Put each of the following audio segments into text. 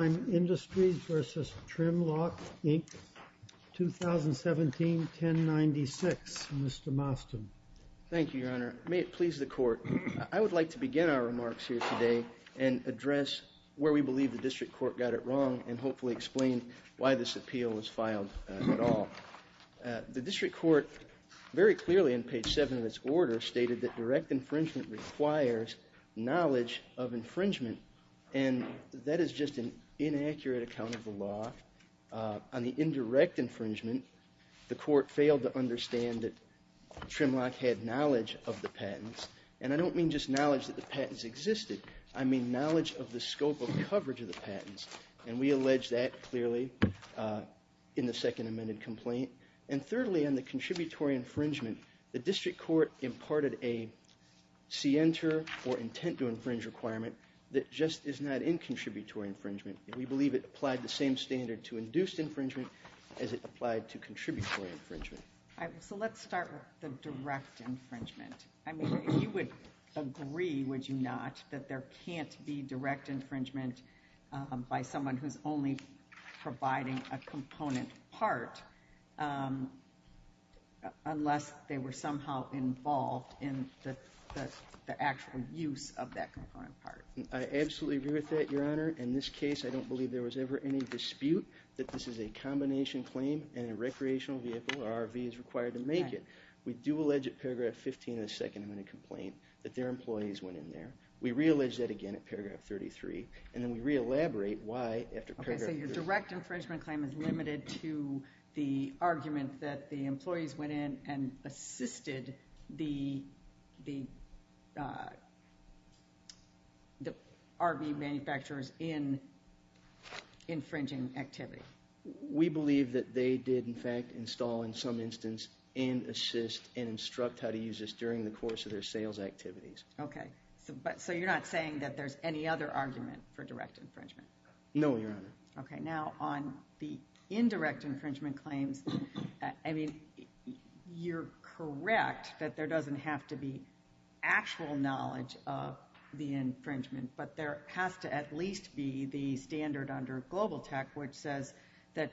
2017-1096. Mr. Mostyn. Thank you, Your Honor. May it please the Court. I would like to begin our remarks here today and address where we believe the District Court got it wrong and hopefully explain why this appeal was filed at all. The District Court very clearly in page 7 of its order stated that direct infringement requires knowledge of infringement and that is just an inaccurate account of the law. On the indirect infringement, the Court failed to understand that Trim-Lok had knowledge of the patents, and I don't mean just knowledge that the patents existed. I mean knowledge of the scope of coverage of the patents, and we allege that clearly in the second amended complaint. And thirdly, on the contributory infringement, the District Court imparted a scienter or intent to infringe requirement that just is not in contributory infringement. We believe it applied the same standard to induced infringement as it applied to contributory infringement. All right, so let's start with the direct infringement. I mean, if you would agree, would you not, that there can't be direct infringement by someone who's only providing a component part unless they were I absolutely agree with that, Your Honor. In this case, I don't believe there was ever any dispute that this is a combination claim and a recreational vehicle or RV is required to make it. We do allege at paragraph 15 of the second amended complaint that their employees went in there. We re-allege that again at paragraph 33, and then we re-elaborate why after paragraph 33. Okay, so your direct infringement claim is limited to the argument that the RV manufacturers in infringing activity. We believe that they did in fact install in some instance and assist and instruct how to use this during the course of their sales activities. Okay, so you're not saying that there's any other argument for direct infringement? No, Your Honor. Okay, now on the indirect infringement claims, I mean, you're correct that there doesn't have to be actual knowledge of the infringement, but there has to at least be the standard under Global Tech, which says that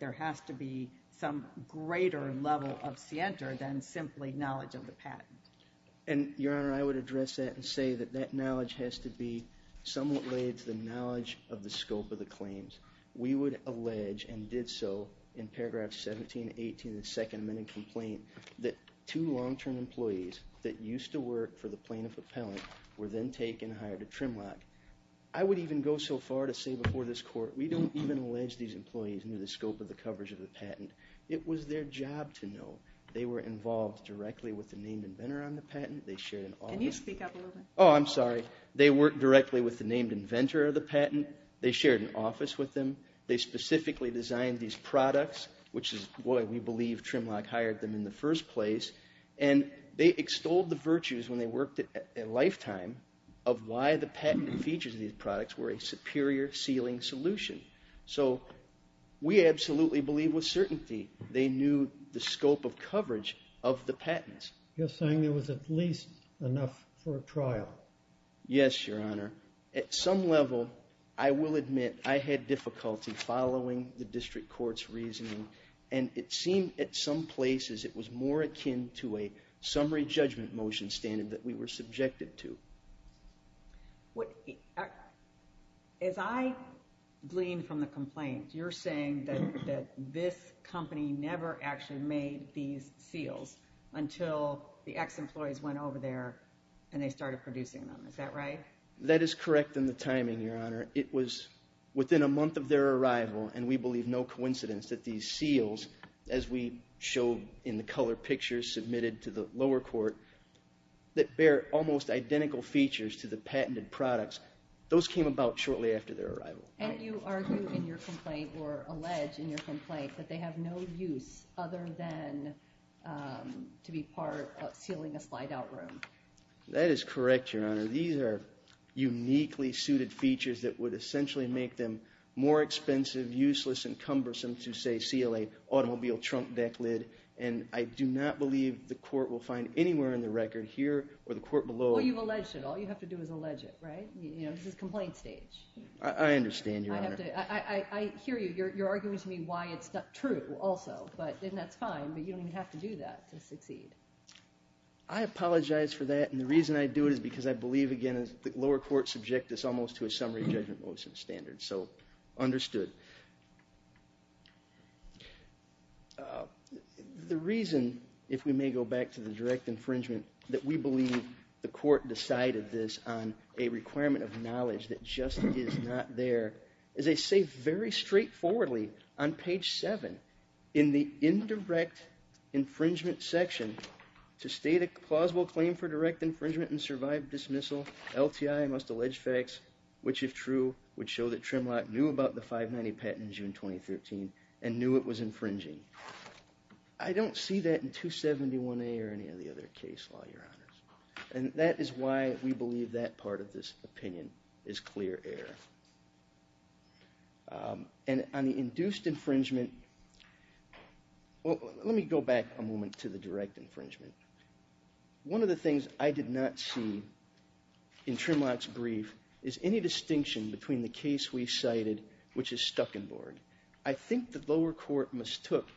there has to be some greater level of scienter than simply knowledge of the patent. And Your Honor, I would address that and say that that knowledge has to be somewhat related to the knowledge of the scope of the claims. We would allege, and did so in paragraph 17, 18 of the second amended complaint, that two long-term employees that used to work for the plaintiff appellant were then taken and hired at Trimlock. I would even go so far to say before this court, we don't even allege these employees knew the scope of the coverage of the patent. It was their job to know. They were involved directly with the named inventor on the patent. They shared an office. Can you speak up a little bit? Oh, I'm sorry. They worked directly with the named inventor of the patent. They shared an office with them. They specifically designed these products, which is why we believe Trimlock hired them in the first place. And they extolled the virtues when they worked a lifetime of why the patent features of these products were a superior ceiling solution. So we absolutely believe with certainty they knew the scope of coverage of the patents. You're saying there was at least enough for a trial? Yes, Your Honor. At some level, I will admit I had difficulty following the district court's reasoning, and it seemed at some places it was more akin to a summary judgment motion standard that we were made these seals until the ex-employees went over there and they started producing them. Is that right? That is correct in the timing, Your Honor. It was within a month of their arrival, and we believe no coincidence that these seals, as we showed in the colored pictures submitted to the lower court, that bear almost identical features to the patented products, those came about shortly after their arrival. And you argue in your complaint or allege in your complaint that they have no use other than to be part of sealing a slide-out room? That is correct, Your Honor. These are uniquely suited features that would essentially make them more expensive, useless, and cumbersome to, say, seal a automobile trunk deck lid. And I do not believe the court will find anywhere in the record, here or the court below. Well, you've alleged it. All you have to do is allege it, right? You know, this is complaint stage. I understand, Your Honor. I hear you. You're arguing to me why it's not true also, but then that's fine, but you don't even have to do that to succeed. I apologize for that, and the reason I do it is because I believe, again, the lower court subject this almost to a summary judgment motion standard, so understood. The reason, if we may go back to the direct infringement, that we believe the court decided this on a requirement of knowledge that just is not there, is they say very straightforwardly on page 7 in the indirect infringement section, to state a plausible claim for direct infringement and survived dismissal, LTI must allege facts which, if true, would show that Trimlock knew about the 590 patent in June 2013 and knew it was infringing. I don't see that in 271A or any of the other case law, Your Honors, and that is why we believe that part of this opinion is clear error. And on the induced infringement, let me go back a moment to the direct infringement. One of the things I did not see in Trimlock's brief is any distinction between the case we cited, which is Stuckenborg. I think the lower court mistook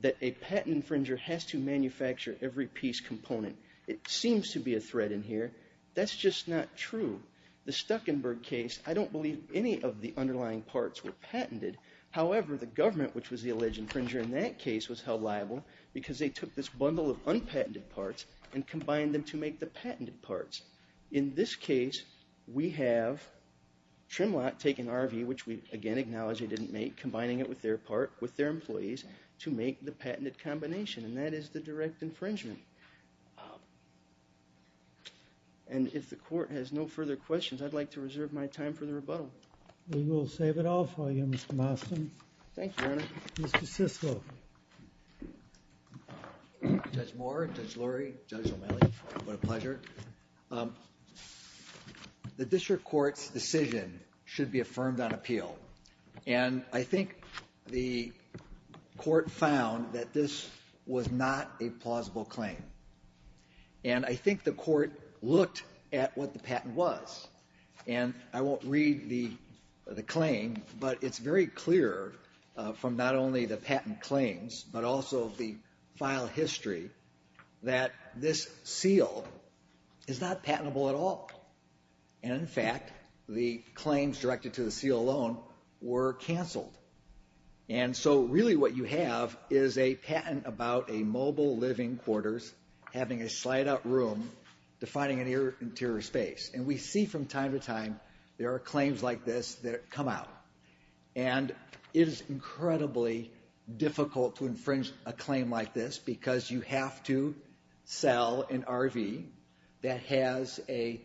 that a patent infringer has to manufacture every piece component. It seems to be a thread in here, that's just not true. The Stuckenborg case, I don't believe any of the underlying parts were patented. However, the government, which was the alleged infringer in that case, was held liable because they took this bundle of unpatented parts and combined them to make the patented parts. In this case, we have Trimlock taking RV, which we again acknowledge they didn't make, combining it with their part, with their employees, to make the patented combination, and that is the direct infringement. And if the court has no further questions, I'd like to reserve my time for the rebuttal. We will save it all for you, Mr. Marston. Thank you, Your Honor. Judge Moore, Judge Lurie, Judge O'Malley, what a pleasure. The district court's decision should be affirmed on appeal, and I think the court found that this was not a plausible claim. And I think the court looked at what the patent was, and I won't read the claim, but it's very clear from not only the patent claims, but also the file history, that this seal is not patentable at all. And in fact, the claims directed to the seal alone were canceled. And so really what you have is a patent about a mobile living quarters having a slide-out room defining an interior space. And we see from time to time there are claims like this that come out. And it is incredibly difficult to infringe a claim like this because you have to sell an RV that has a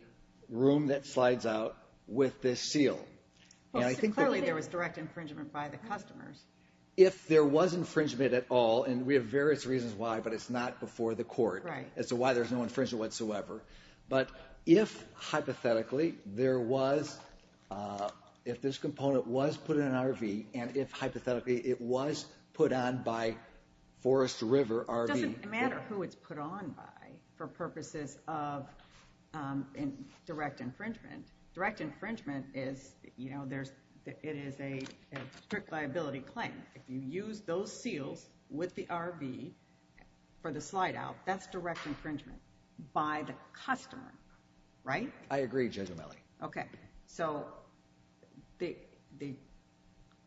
room that slides out with this seal. Clearly there was direct infringement by the customers. If there was infringement at all, and we have various reasons why, but it's not before the court as to why there's no infringement whatsoever, but if hypothetically there was, if this component was put in an RV, and if hypothetically it was put on by Forest River RV. It doesn't matter who it's put on by for purposes of direct infringement. Direct infringement is, you know, there's, it is a strict liability claim. If you use those seals with the RV for the slide-out, that's direct infringement by the customer, right? I agree, Judge O'Malley. Okay, so the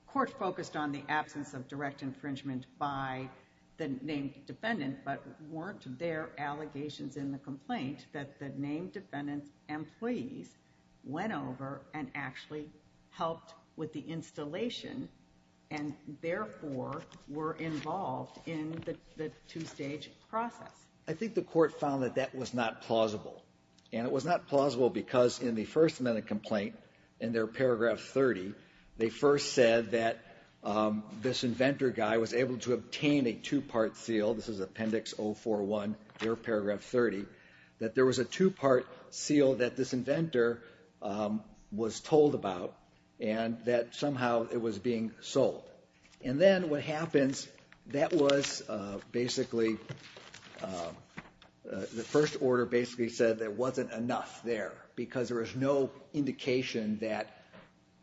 court focused on the absence of direct infringement by the named defendant, but weren't there allegations in the complaint that the named defendant's employees went over and actually helped with the installation and therefore were involved in the two-stage process? I think the court found that that was not plausible. And it was not plausible because in the first minute complaint, in their paragraph 30, they first said that this inventor guy was able to obtain a two-part seal, this is Appendix 041, their paragraph 30, that there was a two-part seal that this inventor was told about and that somehow it was being sold. And then what happens, that was basically, the first order basically said there wasn't enough there because there is no indication that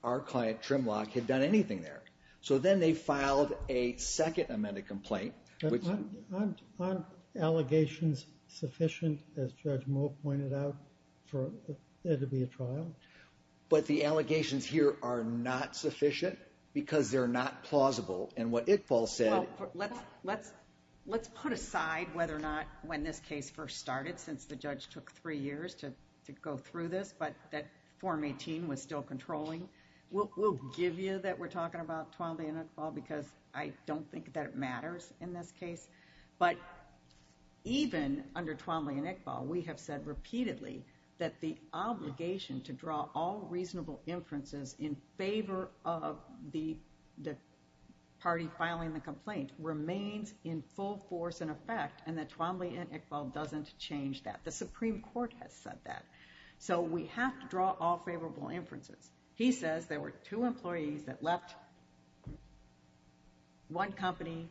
our client, Trimlock, had done anything there. So then they filed a second amended complaint. Aren't allegations sufficient, as Judge Moe pointed out, for there to be a trial? But the allegations here are not sufficient because they're not plausible. And what Iqbal said... Let's put aside whether or not when this case first started, since the judge took three years to go through this, but that Form 18 was still controlling, we'll give you that we're talking about Twombly and Iqbal because I don't think that it matters in this case. But even under Twombly and Iqbal, we have said repeatedly that the obligation to draw all reasonable inferences in favor of the party filing the complaint remains in full force and that Twombly and Iqbal doesn't change that. The Supreme Court has said that. So we have to draw all favorable inferences. He says there were two employees that left one company,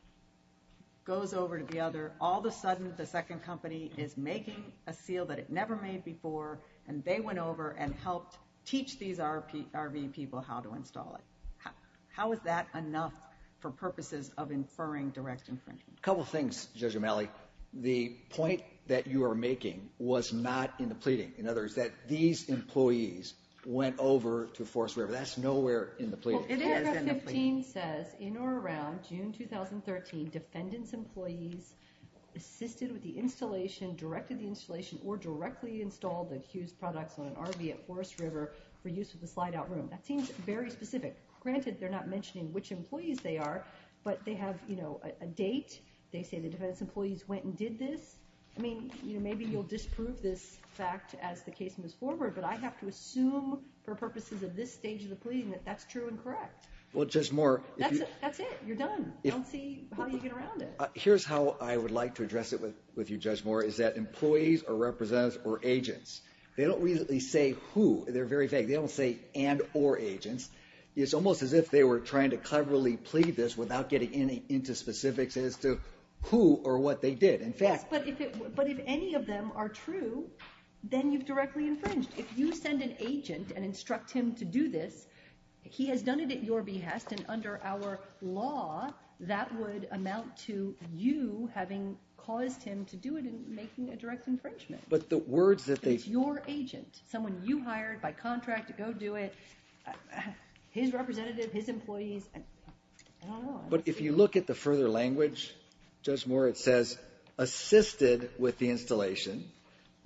goes over to the other. All of a sudden, the second company is making a seal that it never made before, and they went over and helped teach these RV people how to install it. How is that enough for purposes of inferring direct infringement? A couple of things, Judge O'Malley. The point that you are making was not in the pleading. In other words, that these employees went over to Forest River. That's nowhere in the pleading. It is in the pleading. It says in or around June 2013, defendants' employees assisted with the installation, directed the installation, or directly installed the Hughes products on an RV at Forest River for use with the slide-out room. That seems very specific. Granted, they're not mentioning which employees they are, but they have, you know, a date. They say the defendants' employees went and did this. I mean, you know, maybe you'll disprove this fact as the case moves forward, but I have to assume for purposes of this stage of the pleading that that's true and correct. Well, Judge Moore. That's it. You're done. I don't see how you get around it. Here's how I would like to address it with you, Judge Moore, is that employees are representatives or agents. They don't really say who. They're very vague. They don't say and or agents. It's almost as if they were trying to cleverly plead this without getting any into specifics as to who or what they did. In fact, but if any of them are true, then you've directly infringed. If you send an agent and instruct him to do this, he has done it at your behest and under our law, that would amount to you having caused him to do it and making a direct infringement. But the words that it's your agent, someone you hired by contract to go do it, his representative, his employees. But if you look at the further language, Judge Moore, it says assisted with the installation,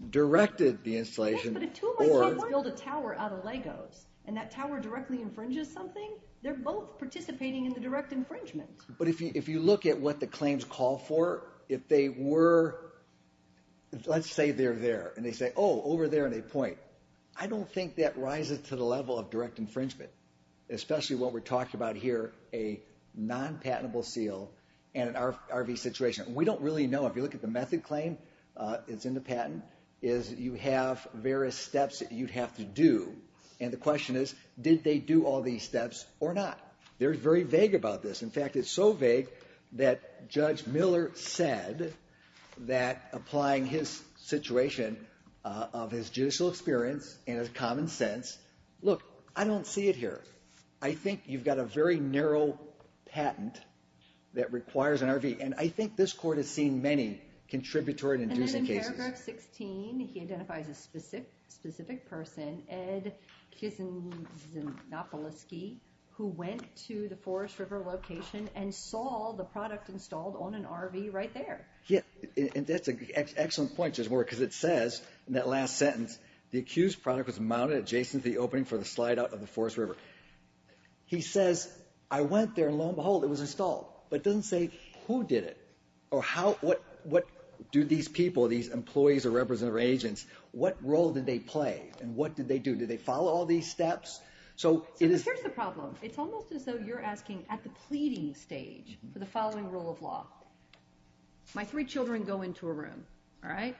directed the installation. Yeah, but if two of my clients build a tower out of Legos and that tower directly infringes something, they're both participating in the direct infringement. But if you look at what the claims call for, if they were, let's say they're there and they say, over there and they point, I don't think that rises to the level of direct infringement, especially what we're talking about here, a non-patentable seal and an RV situation. We don't really know. If you look at the method claim, it's in the patent is you have various steps that you'd have to do. And the question is, did they do all these steps or not? They're very vague about this. In fact, it's so vague that Judge Miller said that applying his situation of his judicial experience and his common sense, look, I don't see it here. I think you've got a very narrow patent that requires an RV. And I think this court has seen many contributory and inducing cases. And then in paragraph 16, he identifies a specific person, Ed Kizanopouloski, who went to the Forest River location and saw the product installed on an RV right there. And that's an excellent point, Judge Miller, because it says in that last sentence, the accused product was mounted adjacent to the opening for the slide out of the Forest River. He says, I went there, and lo and behold, it was installed. But it doesn't say who did it or what do these people, these employees or representative agents, what role did they play and what did they do? Did they follow all these steps? So here's the problem. It's almost as if you're asking at the pleading stage for the following rule of law. My three children go into a room, all right?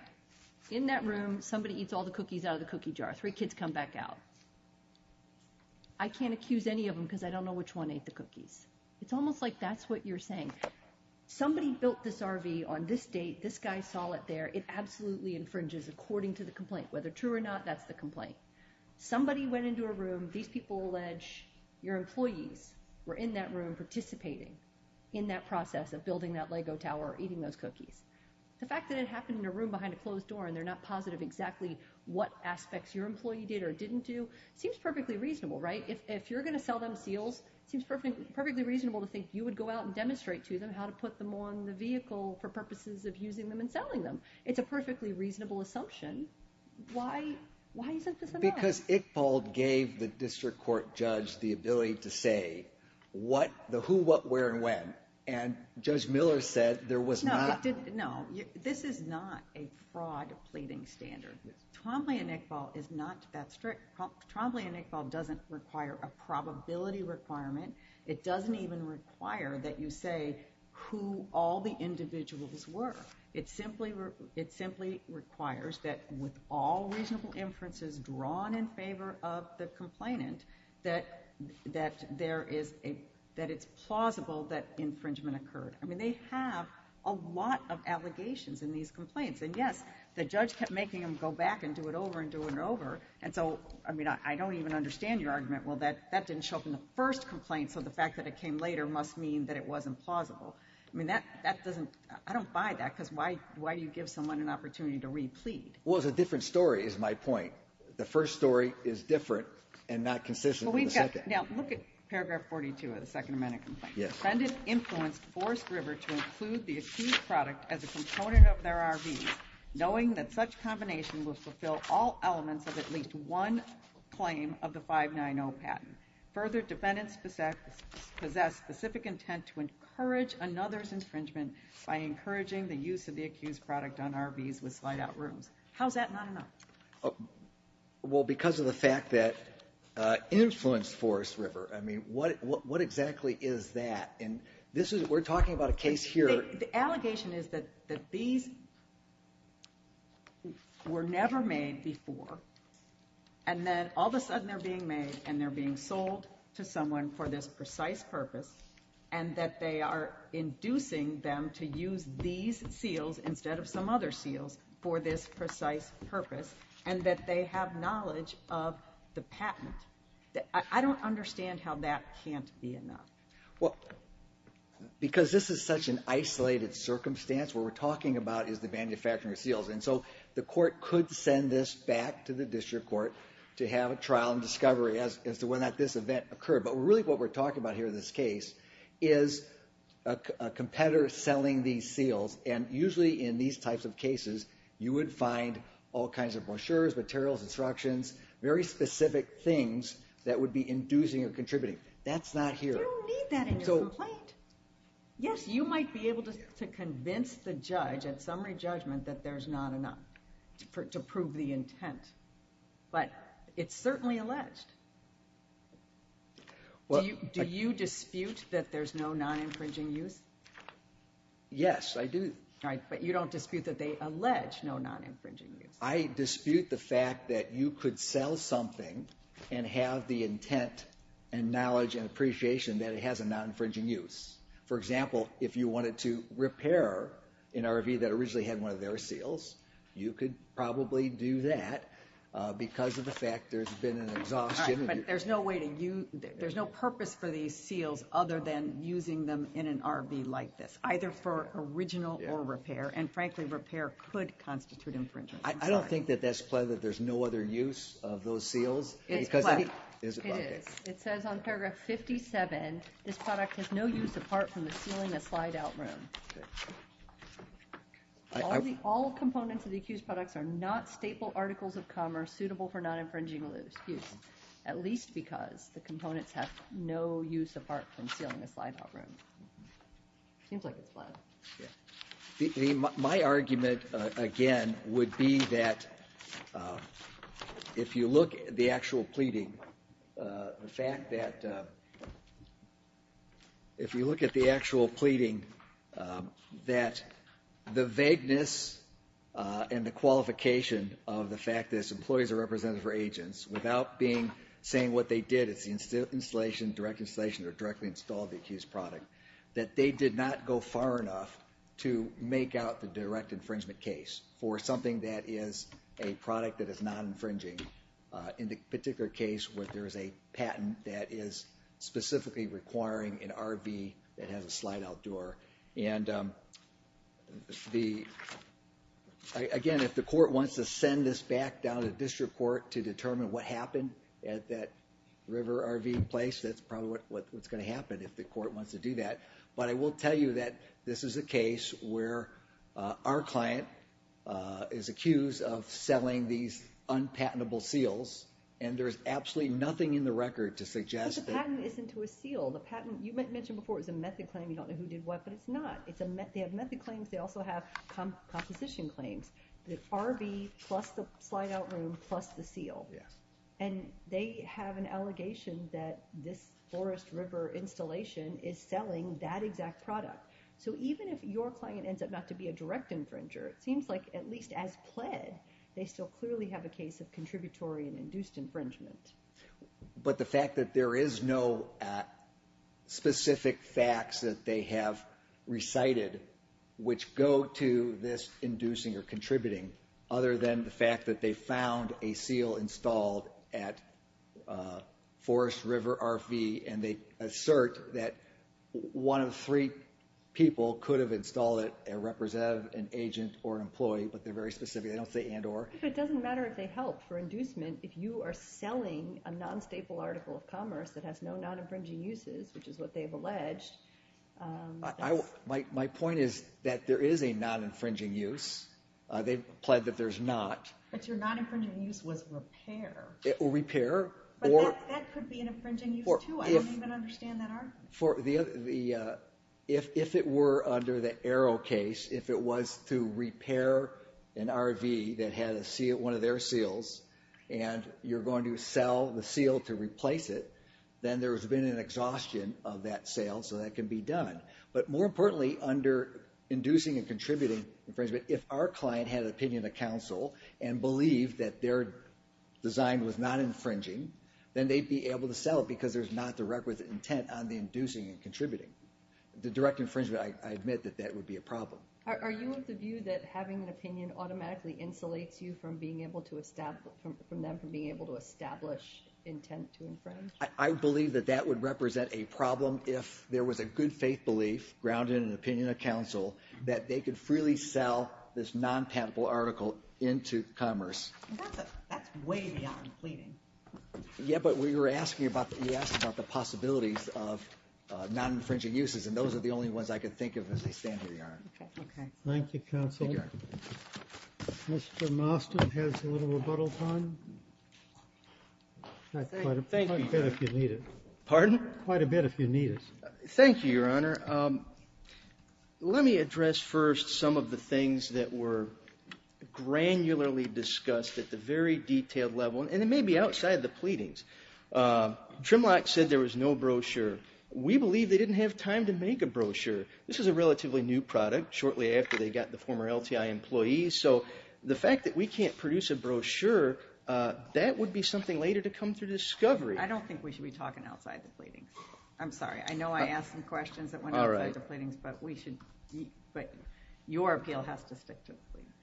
In that room, somebody eats all the cookies out of the cookie jar. Three kids come back out. I can't accuse any of them because I don't know which one ate the cookies. It's almost like that's what you're saying. Somebody built this RV on this date. This guy saw it there. It absolutely infringes according to the complaint. Whether true or not, that's the complaint. Somebody went into a room, these people allege your employees were in that room participating in that process of building that Lego tower or eating those cookies. The fact that it happened in a room behind a closed door and they're not positive exactly what aspects your employee did or didn't do seems perfectly reasonable, right? If you're going to sell them seals, it seems perfectly reasonable to think you would go out and demonstrate to them how to put them on the vehicle for purposes of using them and selling them. It's a perfectly reasonable assumption. Why isn't this enough? Because Iqbal gave the district court judge the ability to say what, the who, what, where, and when. Judge Miller said there was not... No, this is not a fraud pleading standard. Trombley and Iqbal is not that strict. Trombley and Iqbal doesn't require a probability requirement. It doesn't even require that you say who all the individuals were. It simply requires that with all reasonable inferences drawn in favor of the complainant, that it's plausible that infringement occurred. I mean, they have a lot of allegations in these complaints. And yes, the judge kept making them go back and do it over and do it over. And so, I mean, I don't even understand your argument. Well, that didn't show up in the first complaint, so the fact that it came later must mean that it wasn't plausible. I mean, that doesn't... I don't buy that, because why do you give someone an opportunity to re-plead? Well, it's a different story, is my point. The first story is different and not consistent. Well, we've got... Now, look at paragraph 42 of the Second Amendment complaint. Yes. Defendant influenced Forest River to include the accused product as a component of their RVs, knowing that such combination will fulfill all elements of at least one claim of the 590 patent. Further, defendants possess specific intent to encourage another's infringement by encouraging the use of the accused product on RVs with slide-out rooms. How's that not enough? Well, because of the fact that influenced Forest River. I mean, what exactly is that? And this is... We're talking about a case here... The allegation is that these were never made before, and then all of a sudden they're being made and they're being sold to someone for this precise purpose, and that they are inducing them to use these seals instead of some other seals for this precise purpose, and that they have knowledge of the patent. I don't understand how that can't be enough. Well, because this is such an isolated circumstance, what we're talking about is the manufacturing of seals, and so the court could send this back to the district court to have a discovery as to when this event occurred. But really what we're talking about here in this case is a competitor selling these seals, and usually in these types of cases, you would find all kinds of brochures, materials, instructions, very specific things that would be inducing or contributing. That's not here. You don't need that in your complaint. Yes, you might be able to convince the judge at summary judgment that there's not enough to prove the intent, but it's certainly alleged. Do you dispute that there's no non-infringing use? Yes, I do. All right, but you don't dispute that they allege no non-infringing use. I dispute the fact that you could sell something and have the intent and knowledge and appreciation that it has a non-infringing use. For example, if you wanted to repair an RV that originally had one of their seals, you could probably do that because of the fact there's been an exhaustion. All right, but there's no way to use, there's no purpose for these seals other than using them in an RV like this, either for original or repair, and frankly, repair could constitute infringement. I don't think that that's clear that there's no other use of those seals. It's clear. It says on paragraph 57, this product has no use apart from the sealing a slide-out room. Okay. All components of the accused products are not staple articles of commerce suitable for non-infringing use, at least because the components have no use apart from sealing a slide-out room. Seems like it's flat. My argument, again, would be that if you look at the actual pleading, the fact that if you look at the actual pleading, that the vagueness and the qualification of the fact that its employees are represented for agents without being saying what they did, it's the installation, direct installation, or directly installed the accused product, that they did not go far enough to make out the direct infringement case for something that is a product that is non-infringing. In the particular case where there is a patent that is specifically requiring an RV that has a slide-out door, and again, if the court wants to send this back down to district court to determine what happened at that river RV place, that's probably what's going to happen if the court wants to do that, but I will tell you that this is a case where our client is accused of selling these unpatentable seals, and there's absolutely nothing in the record to suggest that... But the patent isn't to a seal. You mentioned before it was a method claim. You don't know who did what, but it's not. They have method claims. They also have composition claims, the RV plus the slide-out room plus the seal, and they have an allegation that this Forest River installation is selling that exact product, so even if your client ends up not to be a direct infringer, it seems like at least as pled, they still clearly have a case of contributory and induced infringement. But the fact that there is no specific facts that they have recited which go to this inducing or contributing, other than the fact that they found a seal installed at Forest River RV, and they assert that one of the three people could have installed it, a representative, an agent, or an employee, but they're very specific. They don't say and or. But it doesn't matter if they help for inducement if you are selling a non-staple article of commerce that has no non-infringing uses, which is what they've alleged. My point is that there is a non-infringing use. They've pled that there's not. But your non-infringing use was repair. Repair. But that could be an infringing use too. I don't even understand that. If it were under the Arrow case, if it was to repair an RV that had a seal, one of their seals, and you're going to sell the seal to replace it, then there's been an exhaustion of that sale, so that can be done. But more importantly, under inducing and contributing infringement, if our client had an opinion of counsel and believed that their design was not infringing, then they'd be able to sell it because there's not the requisite intent on the inducing and contributing. The direct infringement, I admit that that would be a problem. Are you of the view that having an opinion automatically insulates you from being able to establish from them from being able to establish intent to infringe? I believe that that would represent a problem if there was a good faith belief grounded in this non-patentable article into commerce. That's way beyond pleading. Yeah, but we were asking about the possibilities of non-infringing uses, and those are the only ones I could think of as they stand in the yard. Okay. Thank you, counsel. Mr. Mostyn has a little rebuttal time. Thank you. Quite a bit if you need it. Pardon? Quite a bit if you need it. Thank you, Your Honor. Let me address first some of the things that were granularly discussed at the very detailed level, and it may be outside the pleadings. Trimlock said there was no brochure. We believe they didn't have time to make a brochure. This is a relatively new product, shortly after they got the former LTI employees. So the fact that we can't produce a brochure, that would be something later to come through discovery. I don't think we should be talking outside the pleadings. I'm sorry. I know I asked some questions that went outside the pleadings, but your appeal has to stick to the pleadings.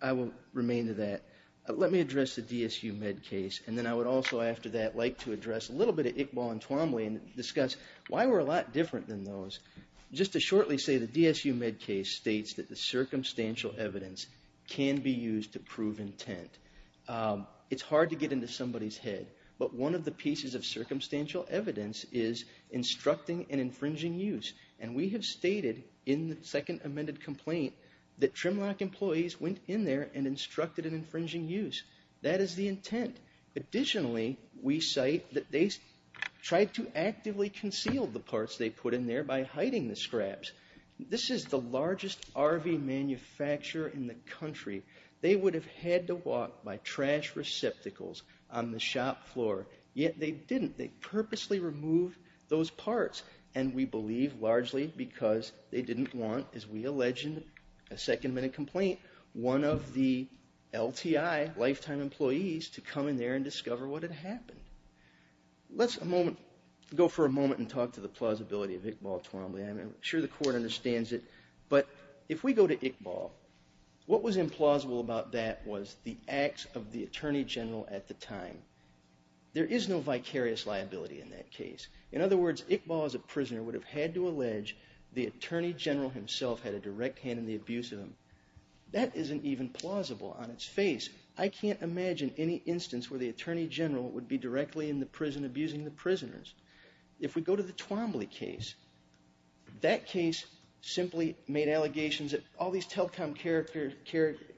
I will remain to that. Let me address the DSU med case, and then I would also, after that, like to address a little bit of Iqbal and Twombly and discuss why we're a lot different than those. Just to shortly say, the DSU med case states that the circumstantial evidence can be used to prove intent. It's hard to get into somebody's head, but one of the pieces of circumstantial evidence is instructing and infringing use. And we have stated in the second amended complaint that Trimlock employees went in there and instructed an infringing use. That is the intent. Additionally, we cite that they tried to actively conceal the parts they put in there by hiding the scraps. This is the largest RV manufacturer in the country. They would have had to walk by trash receptacles on the shop floor. Yet they didn't. They purposely removed those parts. And we believe largely because they didn't want, as we allege in a second amended complaint, one of the LTI, lifetime employees, to come in there and discover what had happened. Let's go for a moment and talk to the plausibility of Iqbal and Twombly. I'm sure the court understands it. But if we go to Iqbal, what was implausible about that was the acts of the attorney general at the time. There is no vicarious liability in that case. In other words, Iqbal as a prisoner would have had to allege the attorney general himself had a direct hand in the abuse of him. That isn't even plausible on its face. I can't imagine any instance where the attorney general would be directly in the prison abusing the prisoners. If we go to the Twombly case, that case simply made allegations that all these telecom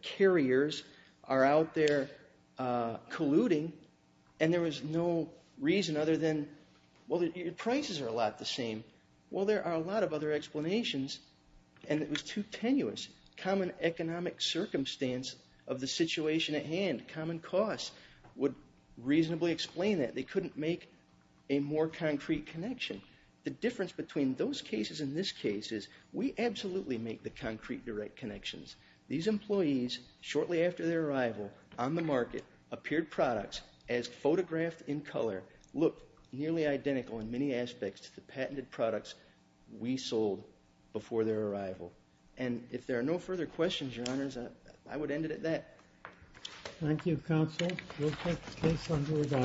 carriers are out there colluding. And there was no reason other than, well, your prices are a lot the same. Well, there are a lot of other explanations. And it was too tenuous. Common economic circumstance of the situation at hand, common costs, would reasonably explain that. They couldn't make a more concrete connection. The difference between those cases and this case is we absolutely make the concrete direct connections. These employees, shortly after their arrival on the market, appeared products as photographed in color. Look, nearly identical in many aspects to the patented products we sold before their arrival. And if there are no further questions, your honors, I would end it at that. Thank you, counsel. We'll take the case under review. All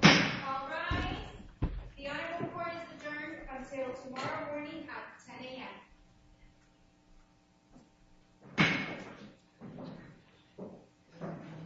right. The audit report is adjourned until tomorrow morning at 10 a.m.